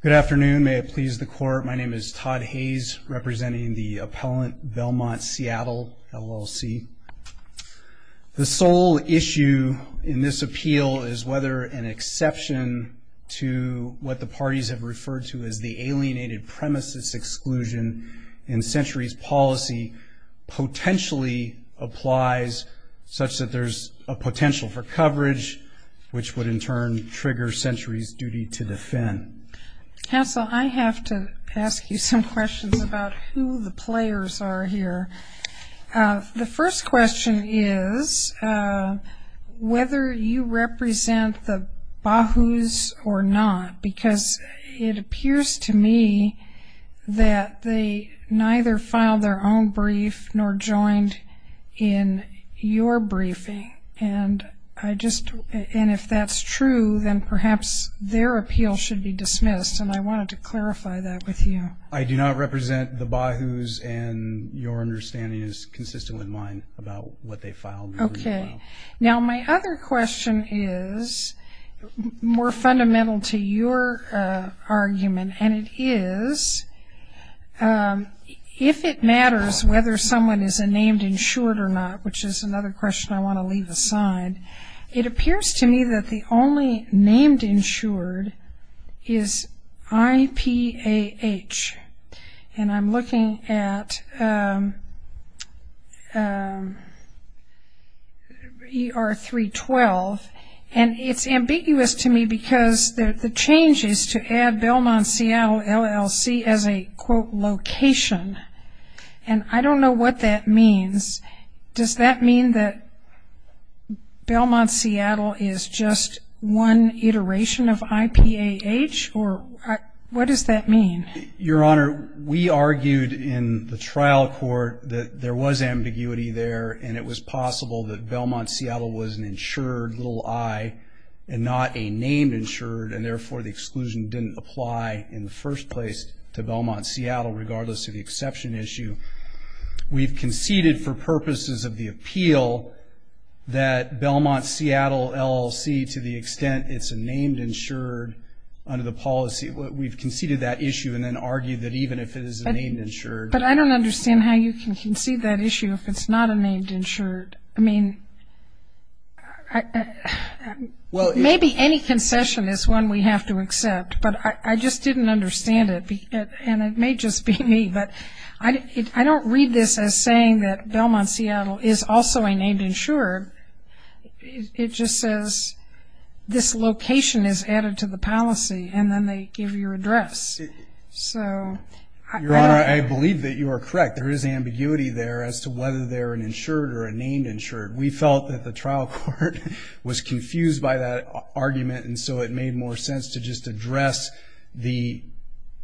Good afternoon, may it please the court. My name is Todd Hayes representing the appellant Belmont Seattle LLC. The sole issue in this appeal is whether an exception to what the parties have referred to as the alienated premises exclusion in centuries policy potentially applies such that there's a party's duty to defend. Counsel, I have to ask you some questions about who the players are here. The first question is whether you represent the Bahu's or not because it appears to me that they neither filed their own brief nor joined in your briefing and I just and if that's true then perhaps their appeal should be dismissed and I wanted to clarify that with you. I do not represent the Bahu's and your understanding is consistent with mine about what they filed. Okay, now my other question is more fundamental to your argument and it is if it matters whether someone is a named insured or not, which is another question I want to leave aside, it appears to me that the only named insured is IPAH and I'm looking at ER 312 and it's ambiguous to me because the change is to add Belmont Seattle LLC as a quote location and I don't know what that means. Does that mean that Belmont Seattle is just one iteration of IPAH or what does that mean? Your Honor, we argued in the trial court that there was ambiguity there and it was possible that Belmont Seattle was an named insured and therefore the exclusion didn't apply in the first place to Belmont Seattle regardless of the exception issue. We've conceded for purposes of the appeal that Belmont Seattle LLC to the extent it's a named insured under the policy. We've conceded that issue and then argued that even if it is a named insured. But I don't understand how you can concede that concession is one we have to accept but I just didn't understand it and it may just be me but I don't read this as saying that Belmont Seattle is also a named insured. It just says this location is added to the policy and then they give your address. Your Honor, I believe that you are correct. There is ambiguity there as to whether they're an insured or a named insured. We felt that the trial court was confused by that argument and so it made more sense to just address the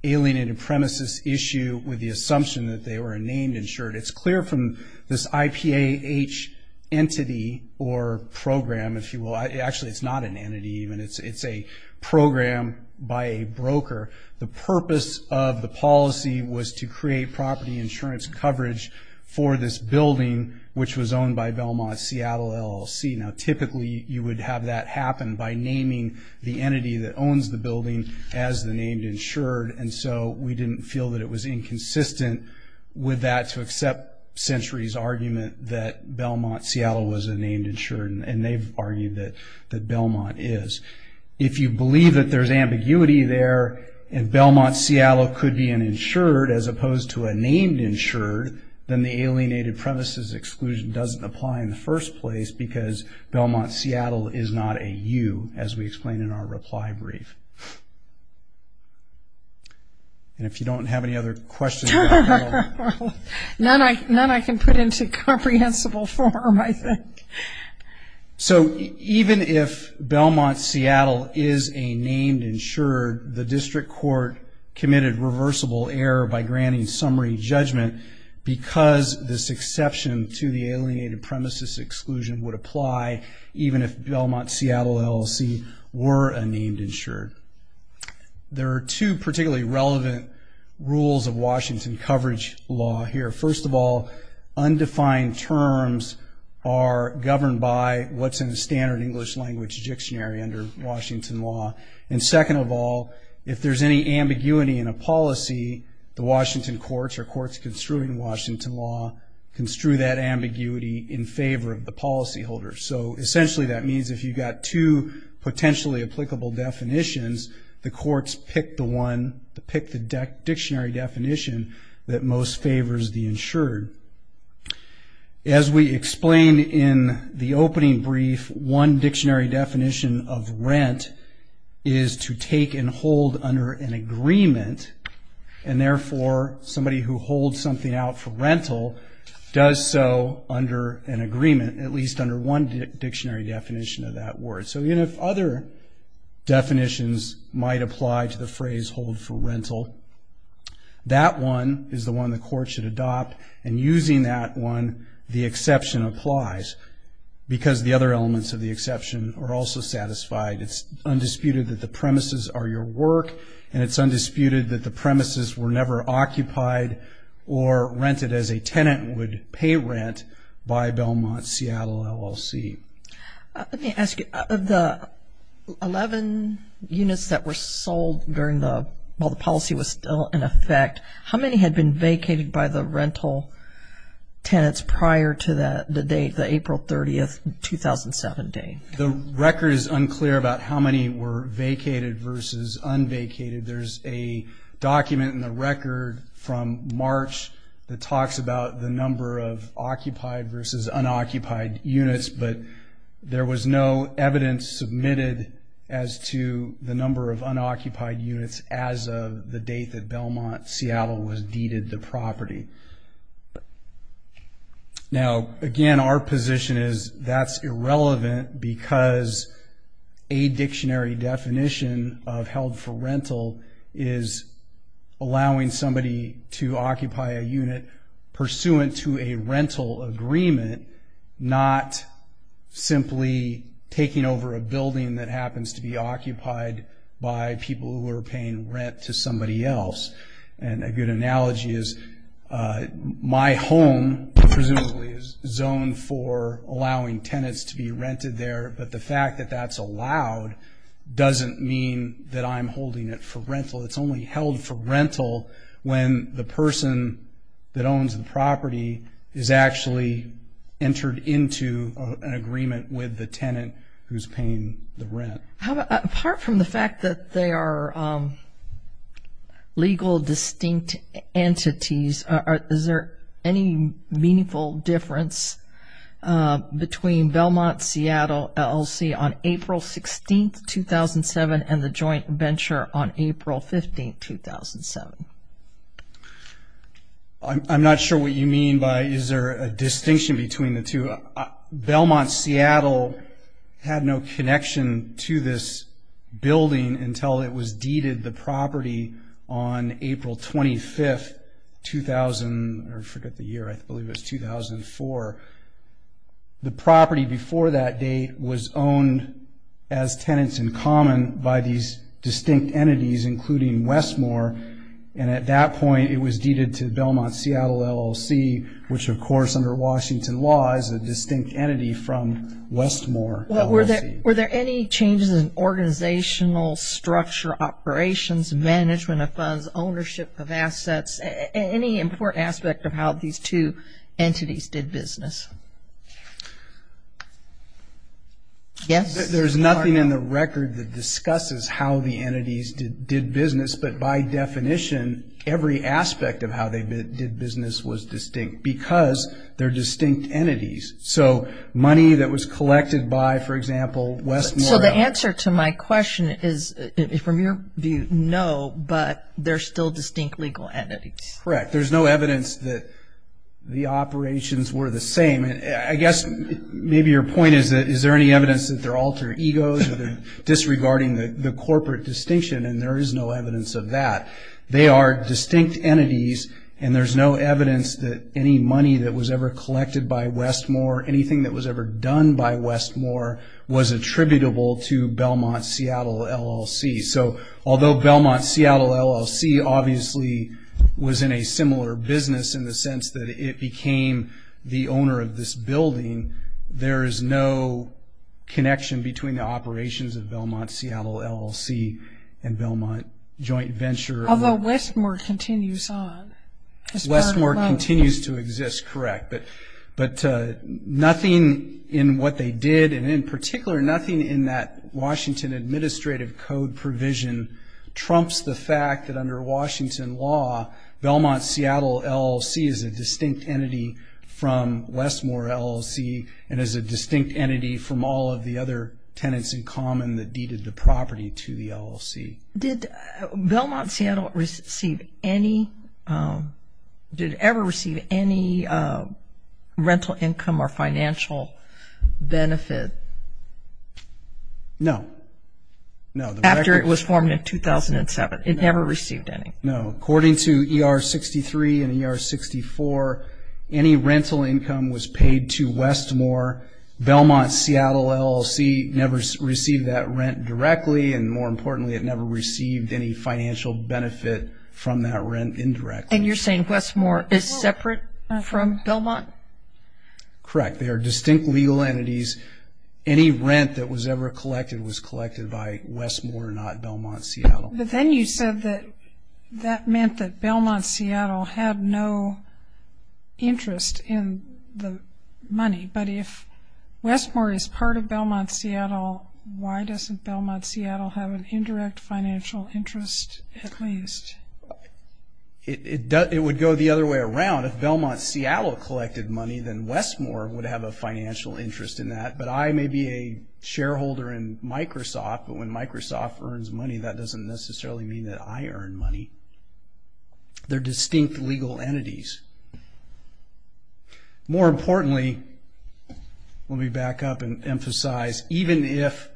alienated premises issue with the assumption that they were a named insured. It's clear from this IPAH entity or program if you will. Actually it's not an entity even. It's a program by a broker. The purpose of the policy was to create property insurance coverage for this building which was owned by Belmont Seattle LLC. Now typically you would have that happen by naming the entity that owns the building as the named insured and so we didn't feel that it was inconsistent with that to accept Century's argument that Belmont Seattle was a named insured and they've argued that Belmont is. If you believe that there's ambiguity there and Belmont Seattle could be an insured as opposed to a named insured, then the alienated premises exclusion doesn't apply in the first place because Belmont Seattle is not a U as we explain in our reply brief. And if you don't have any other questions... None I can put into comprehensible form I think. So even if Belmont Seattle is a named insured, the district court committed reversible error by granting summary judgment because this exception to the alienated premises exclusion would apply even if Belmont Seattle LLC were a named insured. There are two particularly relevant rules of Washington coverage law here. First of all, undefined terms are governed by what's in the standard English language dictionary under Washington law. And second of all, if there's any ambiguity in a policy, the rules construe in Washington law, construe that ambiguity in favor of the policyholder. So essentially that means if you've got two potentially applicable definitions, the courts pick the one, pick the dictionary definition that most favors the insured. As we explained in the opening brief, one dictionary definition of rent is to take and hold under an agreement and therefore somebody who holds something out for rental does so under an agreement, at least under one dictionary definition of that word. So even if other definitions might apply to the phrase hold for rental, that one is the one the court should adopt and using that one, the exception applies because the other elements of the exception are also satisfied. It's undisputed that the premises are your work and it's or rented as a tenant would pay rent by Belmont Seattle LLC. Let me ask you, of the 11 units that were sold during the, while the policy was still in effect, how many had been vacated by the rental tenants prior to that date, the April 30th, 2007 date? The record is unclear about how many were vacated versus unvacated. There's a document in the record from March that talks about the number of occupied versus unoccupied units, but there was no evidence submitted as to the number of unoccupied units as of the date that Belmont Seattle was deeded the property. Now again, our position is that's irrelevant because a dictionary definition of held for rental is allowing somebody to occupy a unit pursuant to a rental agreement, not simply taking over a building that happens to be occupied by people who are paying rent to somebody else. And a good analogy is my home presumably is zoned for allowing tenants to be rented there, but the fact that that's allowed doesn't mean that I'm holding it for rental. It's only held for rental when the person that owns the property is actually entered into an agreement with the tenant who's paying the rent. How about, apart from the fact that they are legal distinct entities, is there any meaningful difference between Belmont Seattle LLC on April 16, 2007 and the joint venture on April 15, 2007? I'm not sure what you mean by is there a distinction between the two. Belmont Seattle had no connection to this building until it was deeded the property on April 25, 2004. The property before that date was owned as tenants in common by these distinct entities, including Westmore, and at that point it was deeded to Belmont Seattle LLC, which of course under Washington law is a distinct entity from Westmore LLC. Were there any changes in organizational structure, operations, management of funds, ownership of assets, any important aspect of how these two entities did business? Yes? There's nothing in the record that discusses how the entities did business, but by definition every aspect of how they did business was distinct because they're distinct entities. Money that was collected by, for example, Westmore. The answer to my question is, from your view, no, but they're still distinct legal entities. Correct. There's no evidence that the operations were the same. Maybe your point is that is there any evidence that they're alter egos, disregarding the corporate distinction, and there is no evidence of that. They are distinct entities and there's no evidence that any money that was ever anything that was ever done by Westmore was attributable to Belmont Seattle LLC. Although Belmont Seattle LLC obviously was in a similar business in the sense that it became the owner of this building, there is no connection between the operations of Belmont Seattle LLC and Belmont Joint Venture. Although Westmore continues on as part of Belmont. Continues to exist, correct, but nothing in what they did and in particular nothing in that Washington Administrative Code provision trumps the fact that under Washington law, Belmont Seattle LLC is a distinct entity from Westmore LLC and is a distinct entity from all of the other tenants in common that deeded the property to the LLC. Did Belmont Seattle receive any, did it ever receive any rental income or financial benefit? No. After it was formed in 2007. It never received any. No. According to ER 63 and ER 64, any rental income was paid to Westmore. Belmont Seattle LLC never received that rent directly, and more importantly, it never received any financial benefit from that rent indirectly. And you're saying Westmore is separate from Belmont? Correct. They are distinct legal entities. Any rent that was ever collected was collected by Westmore, not Belmont Seattle. But then you said that that meant that Belmont Seattle had no interest in the money, but if an indirect financial interest at least. It would go the other way around. If Belmont Seattle collected money, then Westmore would have a financial interest in that. But I may be a shareholder in Microsoft, but when Microsoft earns money, that doesn't necessarily mean that I earn money. They're distinct legal entities. More importantly, let me back up and emphasize, even if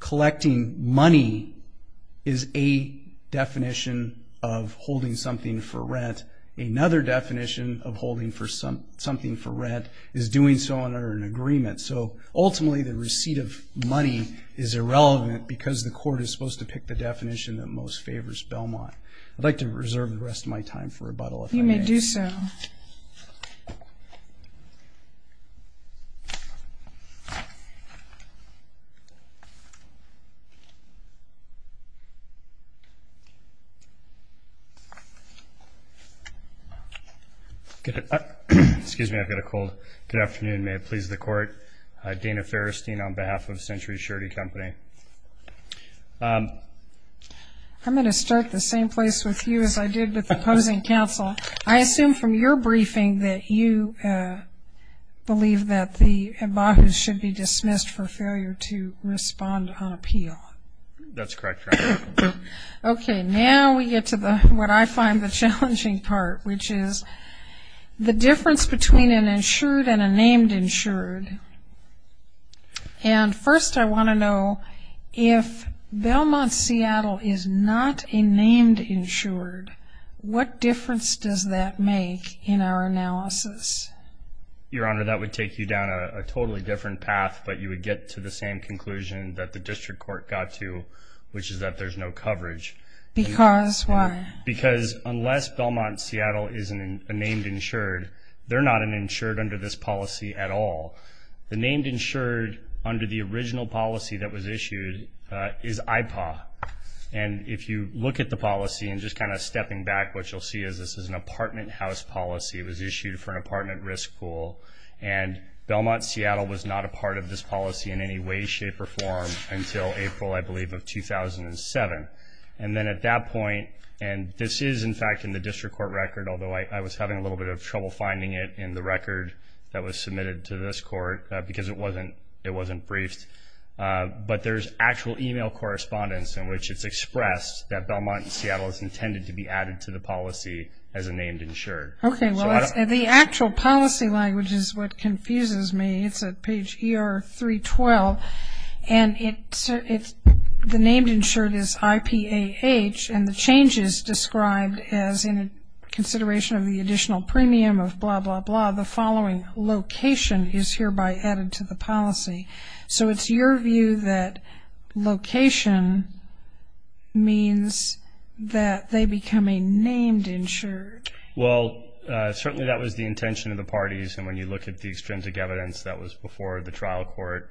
collecting money is a definition of holding something for rent, another definition of holding something for rent is doing so under an agreement. So ultimately, the receipt of money is irrelevant because the court is supposed to pick the definition that most favors Belmont. I'd like to reserve the rest of my time for rebuttal. You may do so. Excuse me. I've got a cold. Good afternoon. May it please the court. Dana Ferristein on behalf of Century Shirty Company. I'm going to start the same place with you as I did with the opposing counsel. I assume from your briefing that you believe that the Imbahu's should be dismissed for failure to respond on appeal. That's correct. Okay, now we get to what I find the challenging part, which is the difference between an insured and a named insured. And first, I want to know if Belmont Seattle is not a named insured, what difference does that make in our analysis? Your Honor, that would take you down a totally different path, but you would get to the same conclusion that the district court got to, which is that there's no coverage. Because why? Because unless Belmont Seattle is a named insured, they're not an insured under this policy at all. The named insured under the original policy that was issued is IPAW, and if you look at the policy, and just kind of stepping back, what you'll see is this is an apartment house policy. It was issued for an apartment risk pool, and Belmont Seattle was not a part of this policy in any way, shape, or form until April, I believe, of 2007. And then at that point, and this is in fact in the district court record, although I was having a little bit of trouble finding it in the record that was submitted to this court because it wasn't briefed, but there's actual email correspondence in which it's stated that Belmont Seattle is intended to be added to the policy as a named insured. Okay, well, the actual policy language is what confuses me. It's at page ER 312, and the named insured is IPAH, and the changes described as in consideration of the additional premium of blah, blah, blah, the following location is hereby added to the policy. So it's your view that location means that they become a named insured? Well, certainly that was the intention of the parties, and when you look at the extrinsic evidence that was before the trial court,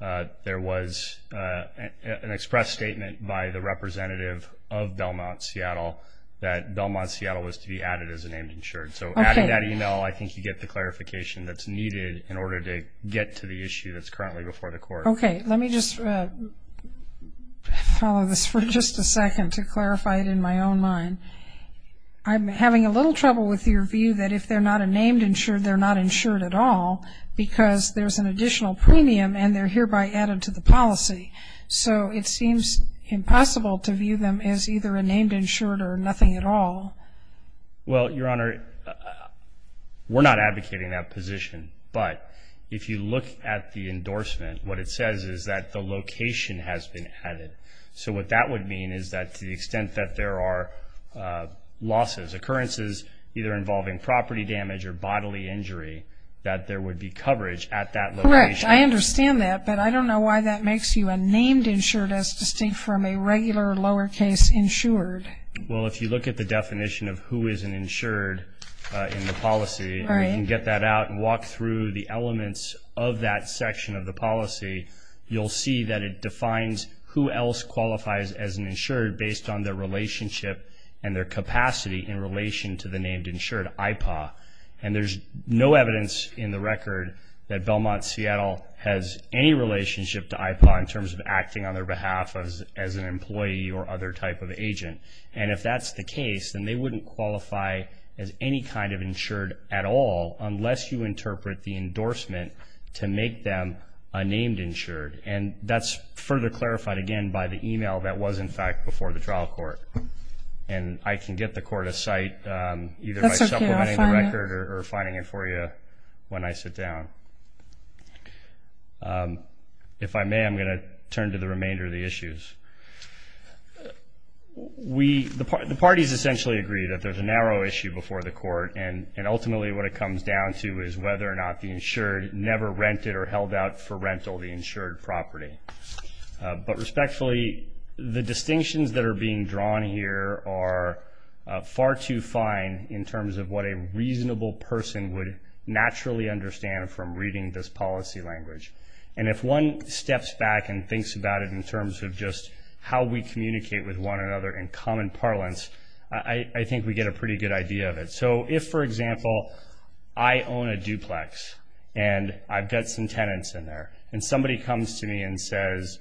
there was an express statement by the representative of Belmont Seattle that Belmont Seattle was to be added as a named insured. So adding that email, I think you get the clarification that's needed in order to get to the issue that's currently before the court. Okay, let me just follow this for just a second to clarify it in my own mind. I'm having a little trouble with your view that if they're not a named insured, they're not insured at all because there's an additional premium, and they're hereby added to the policy. So it seems impossible to view them as either a named insured or nothing at all. Well, Your Honor, we're not advocating that position, but if you look at the endorsement, what it says is that the location has been added. So what that would mean is that to the extent that there are losses, occurrences either involving property damage or bodily injury, that there would be coverage at that location. Correct. I understand that, but I don't know why that makes you a named insured as distinct from a regular lowercase insured. Well, if you look at the definition of who is an insured in the policy, and you can get that out and walk through the elements of that section of the policy, you'll see that it defines who else qualifies as an insured based on their relationship and their capacity in relation to the named insured, IPAW. And there's no evidence in the record that Belmont Seattle has any relationship to IPAW in terms of acting on their behalf as an employee or other type of agent. And if that's the case, then they wouldn't qualify as any kind of insured at all unless you interpret the endorsement to make them a named insured. And that's further clarified again by the email that was in fact before the trial court. And I can get the court a site either by supplementing the record or finding it for you when I sit down. If I may, I'm going to turn to the remainder of the issues. The parties essentially agree that there's a narrow issue before the court, and ultimately what it comes down to is whether or not the insured never rented or held out for rental the insured property. But respectfully, the distinctions that are being drawn here are far too fine in terms of what a reasonable person would naturally understand from reading this policy language. And if one steps back and thinks about it in terms of just how we communicate with one another in common parlance, I think we get a pretty good idea of it. So if, for example, I own a duplex and I've got some tenants in there, and somebody comes to me and says,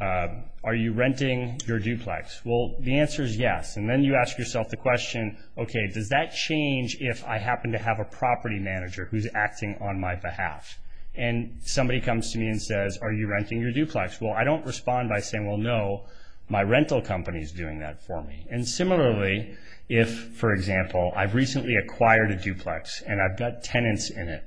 are you renting your duplex? Well, the answer is yes. And then you ask yourself the question, okay, does that change if I happen to have a property manager who's acting on my behalf? And somebody comes to me and says, are you renting your duplex? Well, I don't respond by saying, well, no, my rental company is doing that for me. And similarly, if, for example, I've recently acquired a duplex and I've got tenants in it,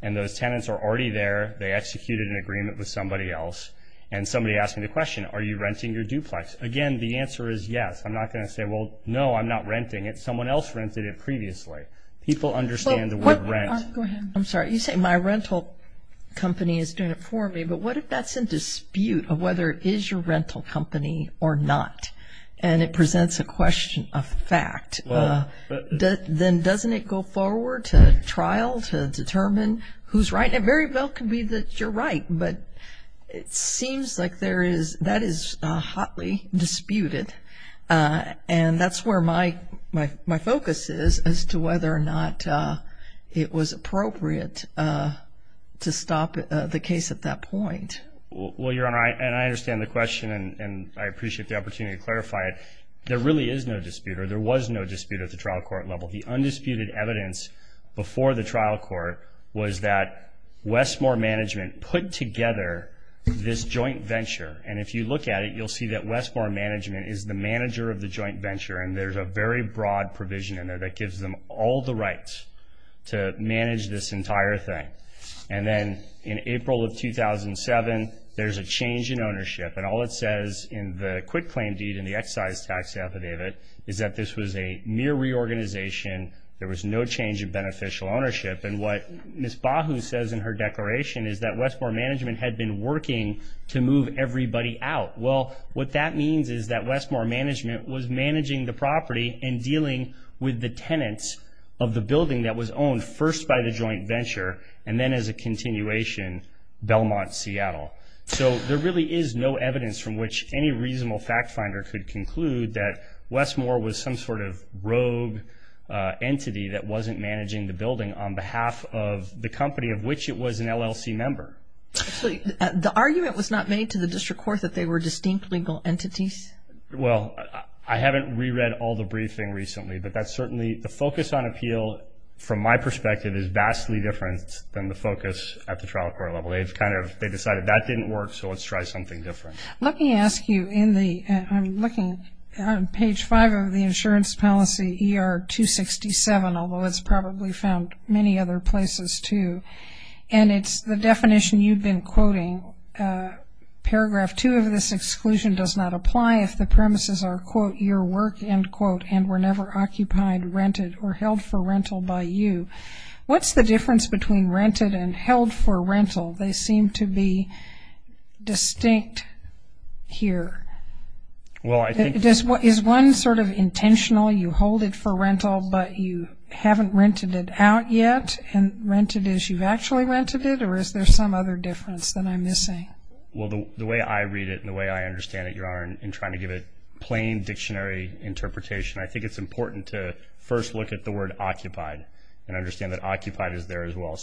and those tenants are already there, they executed an agreement with somebody else, and somebody asked me the question, are you renting your duplex? Again, the answer is yes. I'm not going to say, well, no, I'm not renting it. Someone else rented it previously. People understand the word rent. Go ahead. I'm sorry. You say my rental company is doing it for me, but what if that's in dispute of whether it is your rental company or not, and it presents a question of fact? Then doesn't it go forward to trial to determine who's right? It very well could be that you're right, but it seems like that is hotly disputed. And that's where my focus is as to whether or not it was appropriate to stop the case at that point. Well, Your Honor, and I understand the question, and I appreciate the opportunity to clarify it. There really is no dispute, or there was no dispute at the trial court level. The undisputed evidence before the trial court was that Westmore Management put together this joint venture, and if you look at it, you'll see that Westmore Management is the manager of the joint venture, and there's a very broad provision in there that gives them all the rights to manage this entire thing. And then in April of 2007, there's a change in ownership, and all it says in the quit tax affidavit is that this was a mere reorganization. There was no change in beneficial ownership, and what Ms. Bahu says in her declaration is that Westmore Management had been working to move everybody out. Well, what that means is that Westmore Management was managing the property and dealing with the tenants of the building that was owned first by the joint venture, and then as a continuation, Belmont, Seattle. So there really is no evidence from which any reasonable fact finder could conclude that Westmore was some sort of rogue entity that wasn't managing the building on behalf of the company of which it was an LLC member. Actually, the argument was not made to the district court that they were distinct legal entities. Well, I haven't reread all the briefing recently, but that's certainly the focus on appeal, from my perspective, is vastly different than the focus at the trial court level. They decided that didn't work, so let's try something different. Let me ask you, I'm looking on page 5 of the insurance policy, ER 267, although it's probably found many other places, too, and it's the definition you've been quoting, paragraph 2 of this exclusion does not apply if the premises are, quote, your work, end quote, and were never occupied, rented, or held for rental by you. What's the difference between rented and held for rental? They seem to be distinct here. Is one sort of intentional, you hold it for rental, but you haven't rented it out yet, and rented is you've actually rented it, or is there some other difference that I'm missing? Well, the way I read it and the way I understand it, Your Honor, in trying to give a plain dictionary interpretation, I think it's important to first look at the word occupied and understand that occupied is there as well.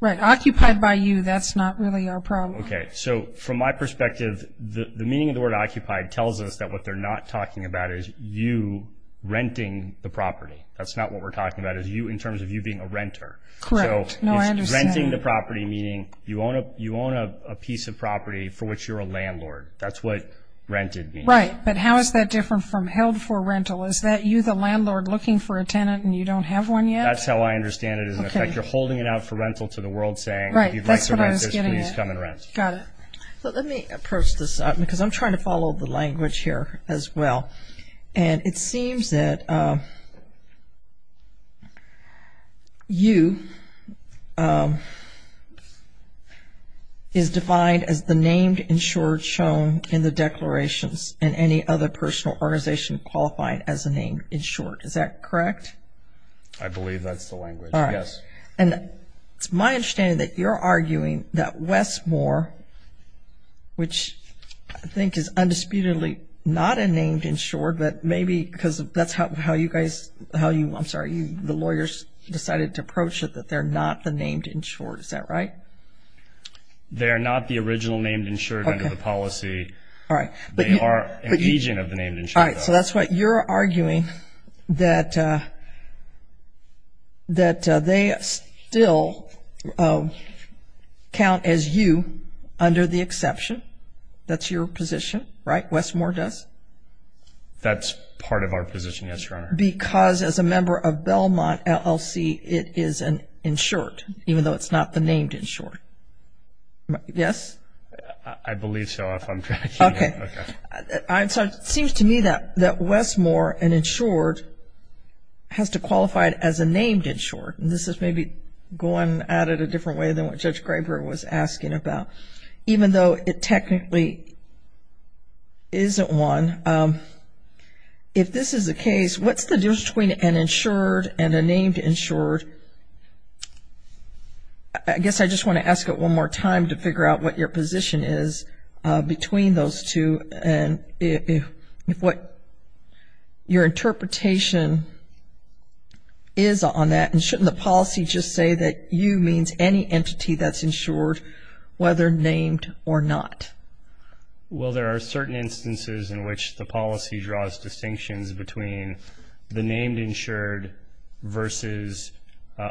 Right, occupied by you, that's not really our problem. Okay, so from my perspective, the meaning of the word occupied tells us that what they're not talking about is you renting the property. That's not what we're talking about, is you in terms of you being a renter. Correct. No, I understand. Renting the property, meaning you own a piece of property for which you're a landlord. That's what rented means. Right, but how is that different from held for rental? Is that you, the landlord, looking for a tenant and you don't have one yet? That's how I understand it, is in effect, you're holding it out for rental to the world, saying, if you'd like to rent this, please come and rent. Got it. So let me approach this, because I'm trying to follow the language here as well. And it seems that you is defined as the named insured shown in the declarations, and any other personal organization qualified as a named insured. Is that correct? I believe that's the language. All right. And it's my understanding that you're arguing that Westmore, which I think is undisputedly not a named insured, but maybe because that's how you guys, how you, I'm sorry, the lawyers decided to approach it, that they're not the named insured. Is that right? They're not the original named insured under the policy. All right. They are an agent of the named insured. All right. So that's what you're arguing, that they still count as you under the exception. That's your position, right? Westmore does? That's part of our position, yes, Your Honor. Because as a member of Belmont LLC, it is an insured, even though it's not the named insured. Yes? I believe so, if I'm correct. Okay. It seems to me that Westmore, an insured, has to qualify it as a named insured. This is maybe going at it a different way than what Judge Graber was asking about. Even though it technically isn't one. If this is the case, what's the difference between an insured and a named insured? I guess I just want to ask it one more time to figure out what your position is between those two and if what your interpretation is on that. And shouldn't the policy just say that you means any entity that's insured, whether named or not? Well, there are certain instances in which the policy draws distinctions between the named insured versus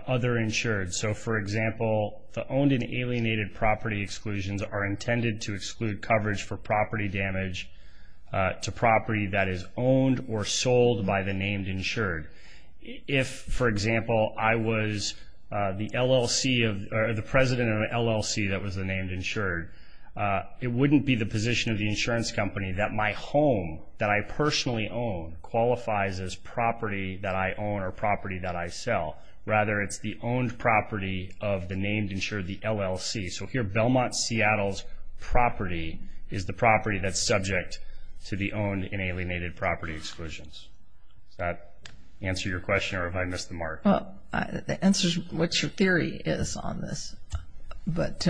other insured. So, for example, the owned and alienated property exclusions are intended to coverage for property damage to property that is owned or sold by the named insured. If, for example, I was the LLC or the president of an LLC that was a named insured, it wouldn't be the position of the insurance company that my home that I personally own qualifies as property that I own or property that I sell. Rather, it's the owned property of the named insured, the LLC. So here, Belmont, Seattle's property is the property that's subject to the owned and alienated property exclusions. Does that answer your question or have I missed the mark? Well, the answer is what your theory is on this. But...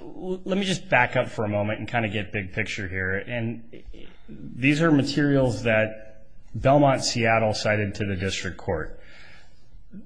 Let me just back up for a moment and kind of get big picture here. And these are materials that Belmont, Seattle cited to the district court.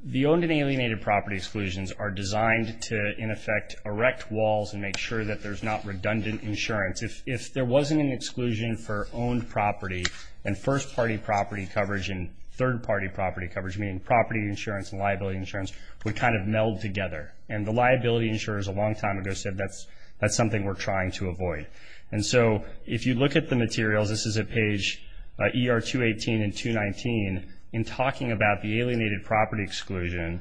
The owned and alienated property exclusions are designed to, in effect, erect walls and make sure that there's not redundant insurance. If there wasn't an exclusion for owned property and first-party property coverage and third-party property coverage, meaning property insurance and liability insurance, would kind of meld together. And the liability insurers a long time ago said that's something we're trying to avoid. And so, if you look at the materials, this is at page ER-218 and 219. In talking about the alienated property exclusion,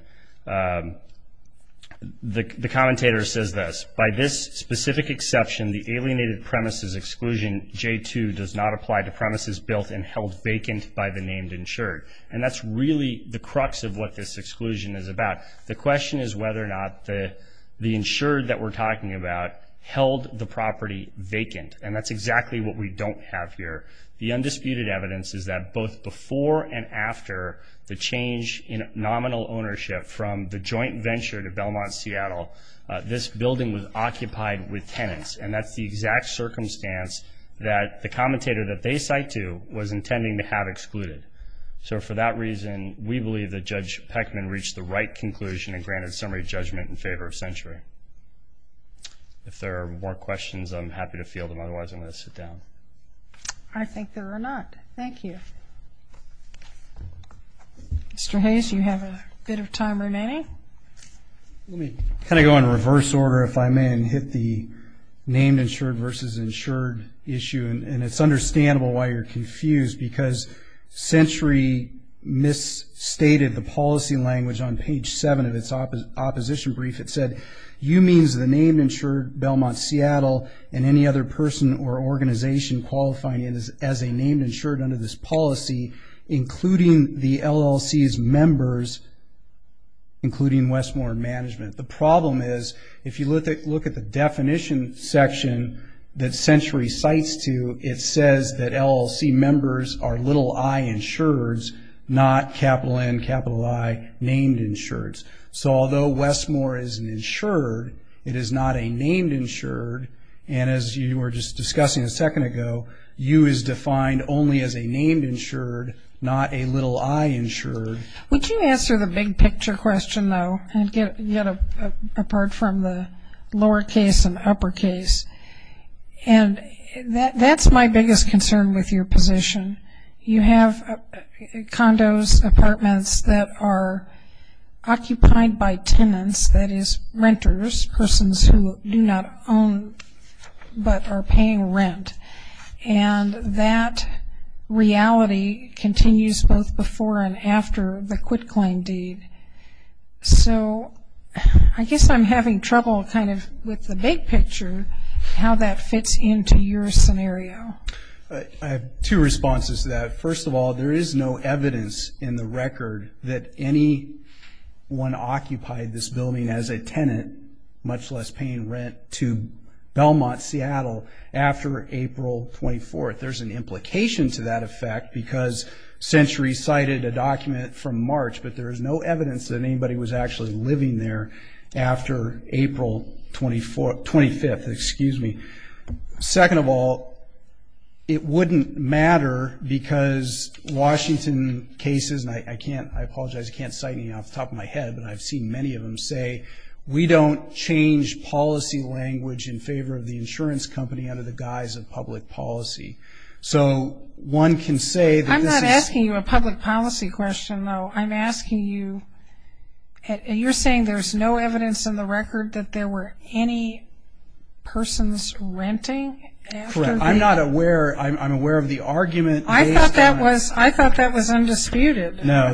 the commentator says this, by this specific exception, the alienated premises exclusion J2 does not apply to premises built and held vacant by the named insured. And that's really the crux of what this exclusion is about. The question is whether or not the insured that we're talking about held the property vacant. And that's exactly what we don't have here. The undisputed evidence is that both before and after the change in nominal ownership from the joint venture to Belmont Seattle, this building was occupied with tenants. And that's the exact circumstance that the commentator that they cite to was intending to have excluded. So, for that reason, we believe that Judge Peckman reached the right conclusion and granted summary judgment in favor of Century. If there are more questions, I'm happy to field them. Otherwise, I'm going to sit down. I think there are not. Thank you. Mr. Hayes, you have a bit of time remaining. Let me kind of go in reverse order, if I may, and hit the named insured versus insured issue. And it's understandable why you're confused, because Century misstated the policy language on page 7 of its opposition brief. It said, you means the named insured, Belmont Seattle, and any other person or organization qualifying as a named insured under this policy, including the LLC's members, including Westmore Management. The problem is, if you look at the definition section that Century cites to, it says that LLC members are little i insureds, not capital N, capital I, named insureds. So, although Westmore is an insured, it is not a named insured. And as you were just discussing a second ago, you is defined only as a named insured, not a little i insured. Would you answer the big picture question, though, apart from the lowercase and uppercase? And that's my biggest concern with your position. You have condos, apartments that are occupied by tenants, that is renters, persons who do not own but are paying rent. And that reality continues both before and after the quitclaim deed. So, I guess I'm having trouble kind of with the big picture, how that fits into your scenario. I have two responses to that. First of all, there is no evidence in the record that anyone occupied this building as a tenant, much less paying rent to Belmont, Seattle, after April 24th. There's an implication to that effect because Century cited a document from March, but there is no evidence that anybody was actually living there after April 25th. Excuse me. Second of all, it wouldn't matter because Washington cases, and I apologize, I can't cite any off the top of my head, but I've seen many of them say, we don't change policy language in favor of the insurance company under the guise of public policy. So, one can say that this is- I'm not asking you a public policy question, though. I'm asking you, you're saying there's no evidence in the record that there were any persons renting after the- Correct. I'm not aware, I'm aware of the argument- I thought that was, I thought that was undisputed. No,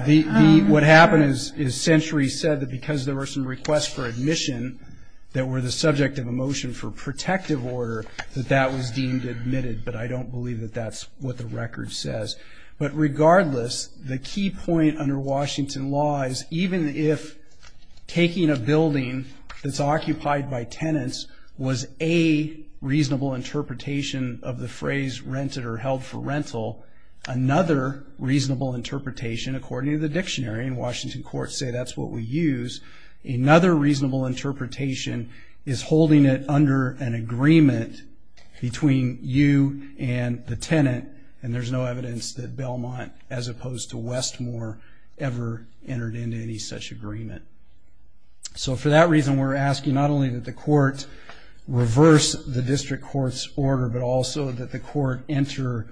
what happened is Century said that because there were some requests for admission that were the subject of a motion for protective order that that was deemed admitted, but I don't believe that that's what the record says. But regardless, the key point under Washington law is even if taking a building that's occupied by tenants was a reasonable interpretation of the phrase rented or held for rental, another reasonable interpretation, according to the dictionary, and Washington courts say that's what we use, another reasonable interpretation is holding it under an agreement between you and the tenant, and there's no evidence that Belmont, as opposed to Westmore, ever entered into any such agreement. So, for that reason, we're asking not only that the court reverse the district court's order, but also that the court enter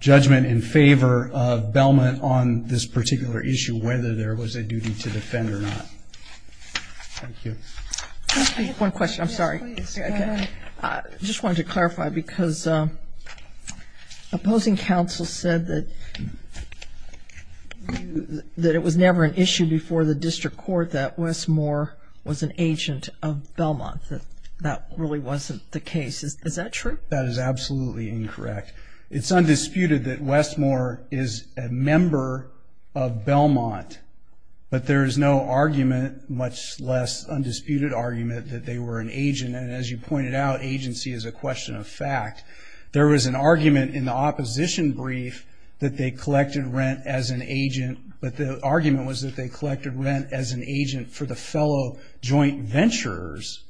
judgment in favor of Belmont on this particular issue, whether there was a duty to defend or not. Thank you. Can I speak? One question, I'm sorry. Yes, please, go ahead. I just wanted to clarify because opposing counsel said that it was never an issue before the district court that Westmore was an agent of Belmont, that that really wasn't the case. Is that true? That is absolutely incorrect. It's undisputed that Westmore is a member of Belmont, but there is no argument, much less undisputed argument, that they were an agent. And as you pointed out, agency is a question of fact. There was an argument in the opposition brief that they collected rent as an agent, but the argument was that they collected rent as an agent for the fellow joint venturers.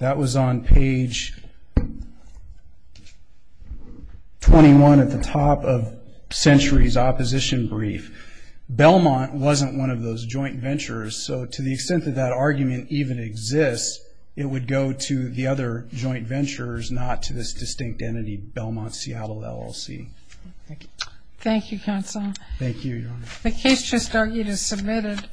That was on page 21 at the top of Century's opposition brief. Belmont wasn't one of those joint venturers, so to the extent that that argument even exists, it would go to the other joint venturers, not to this distinct entity, Belmont Seattle LLC. Thank you. Thank you, counsel. Thank you, Your Honor. The case just argued is submitted.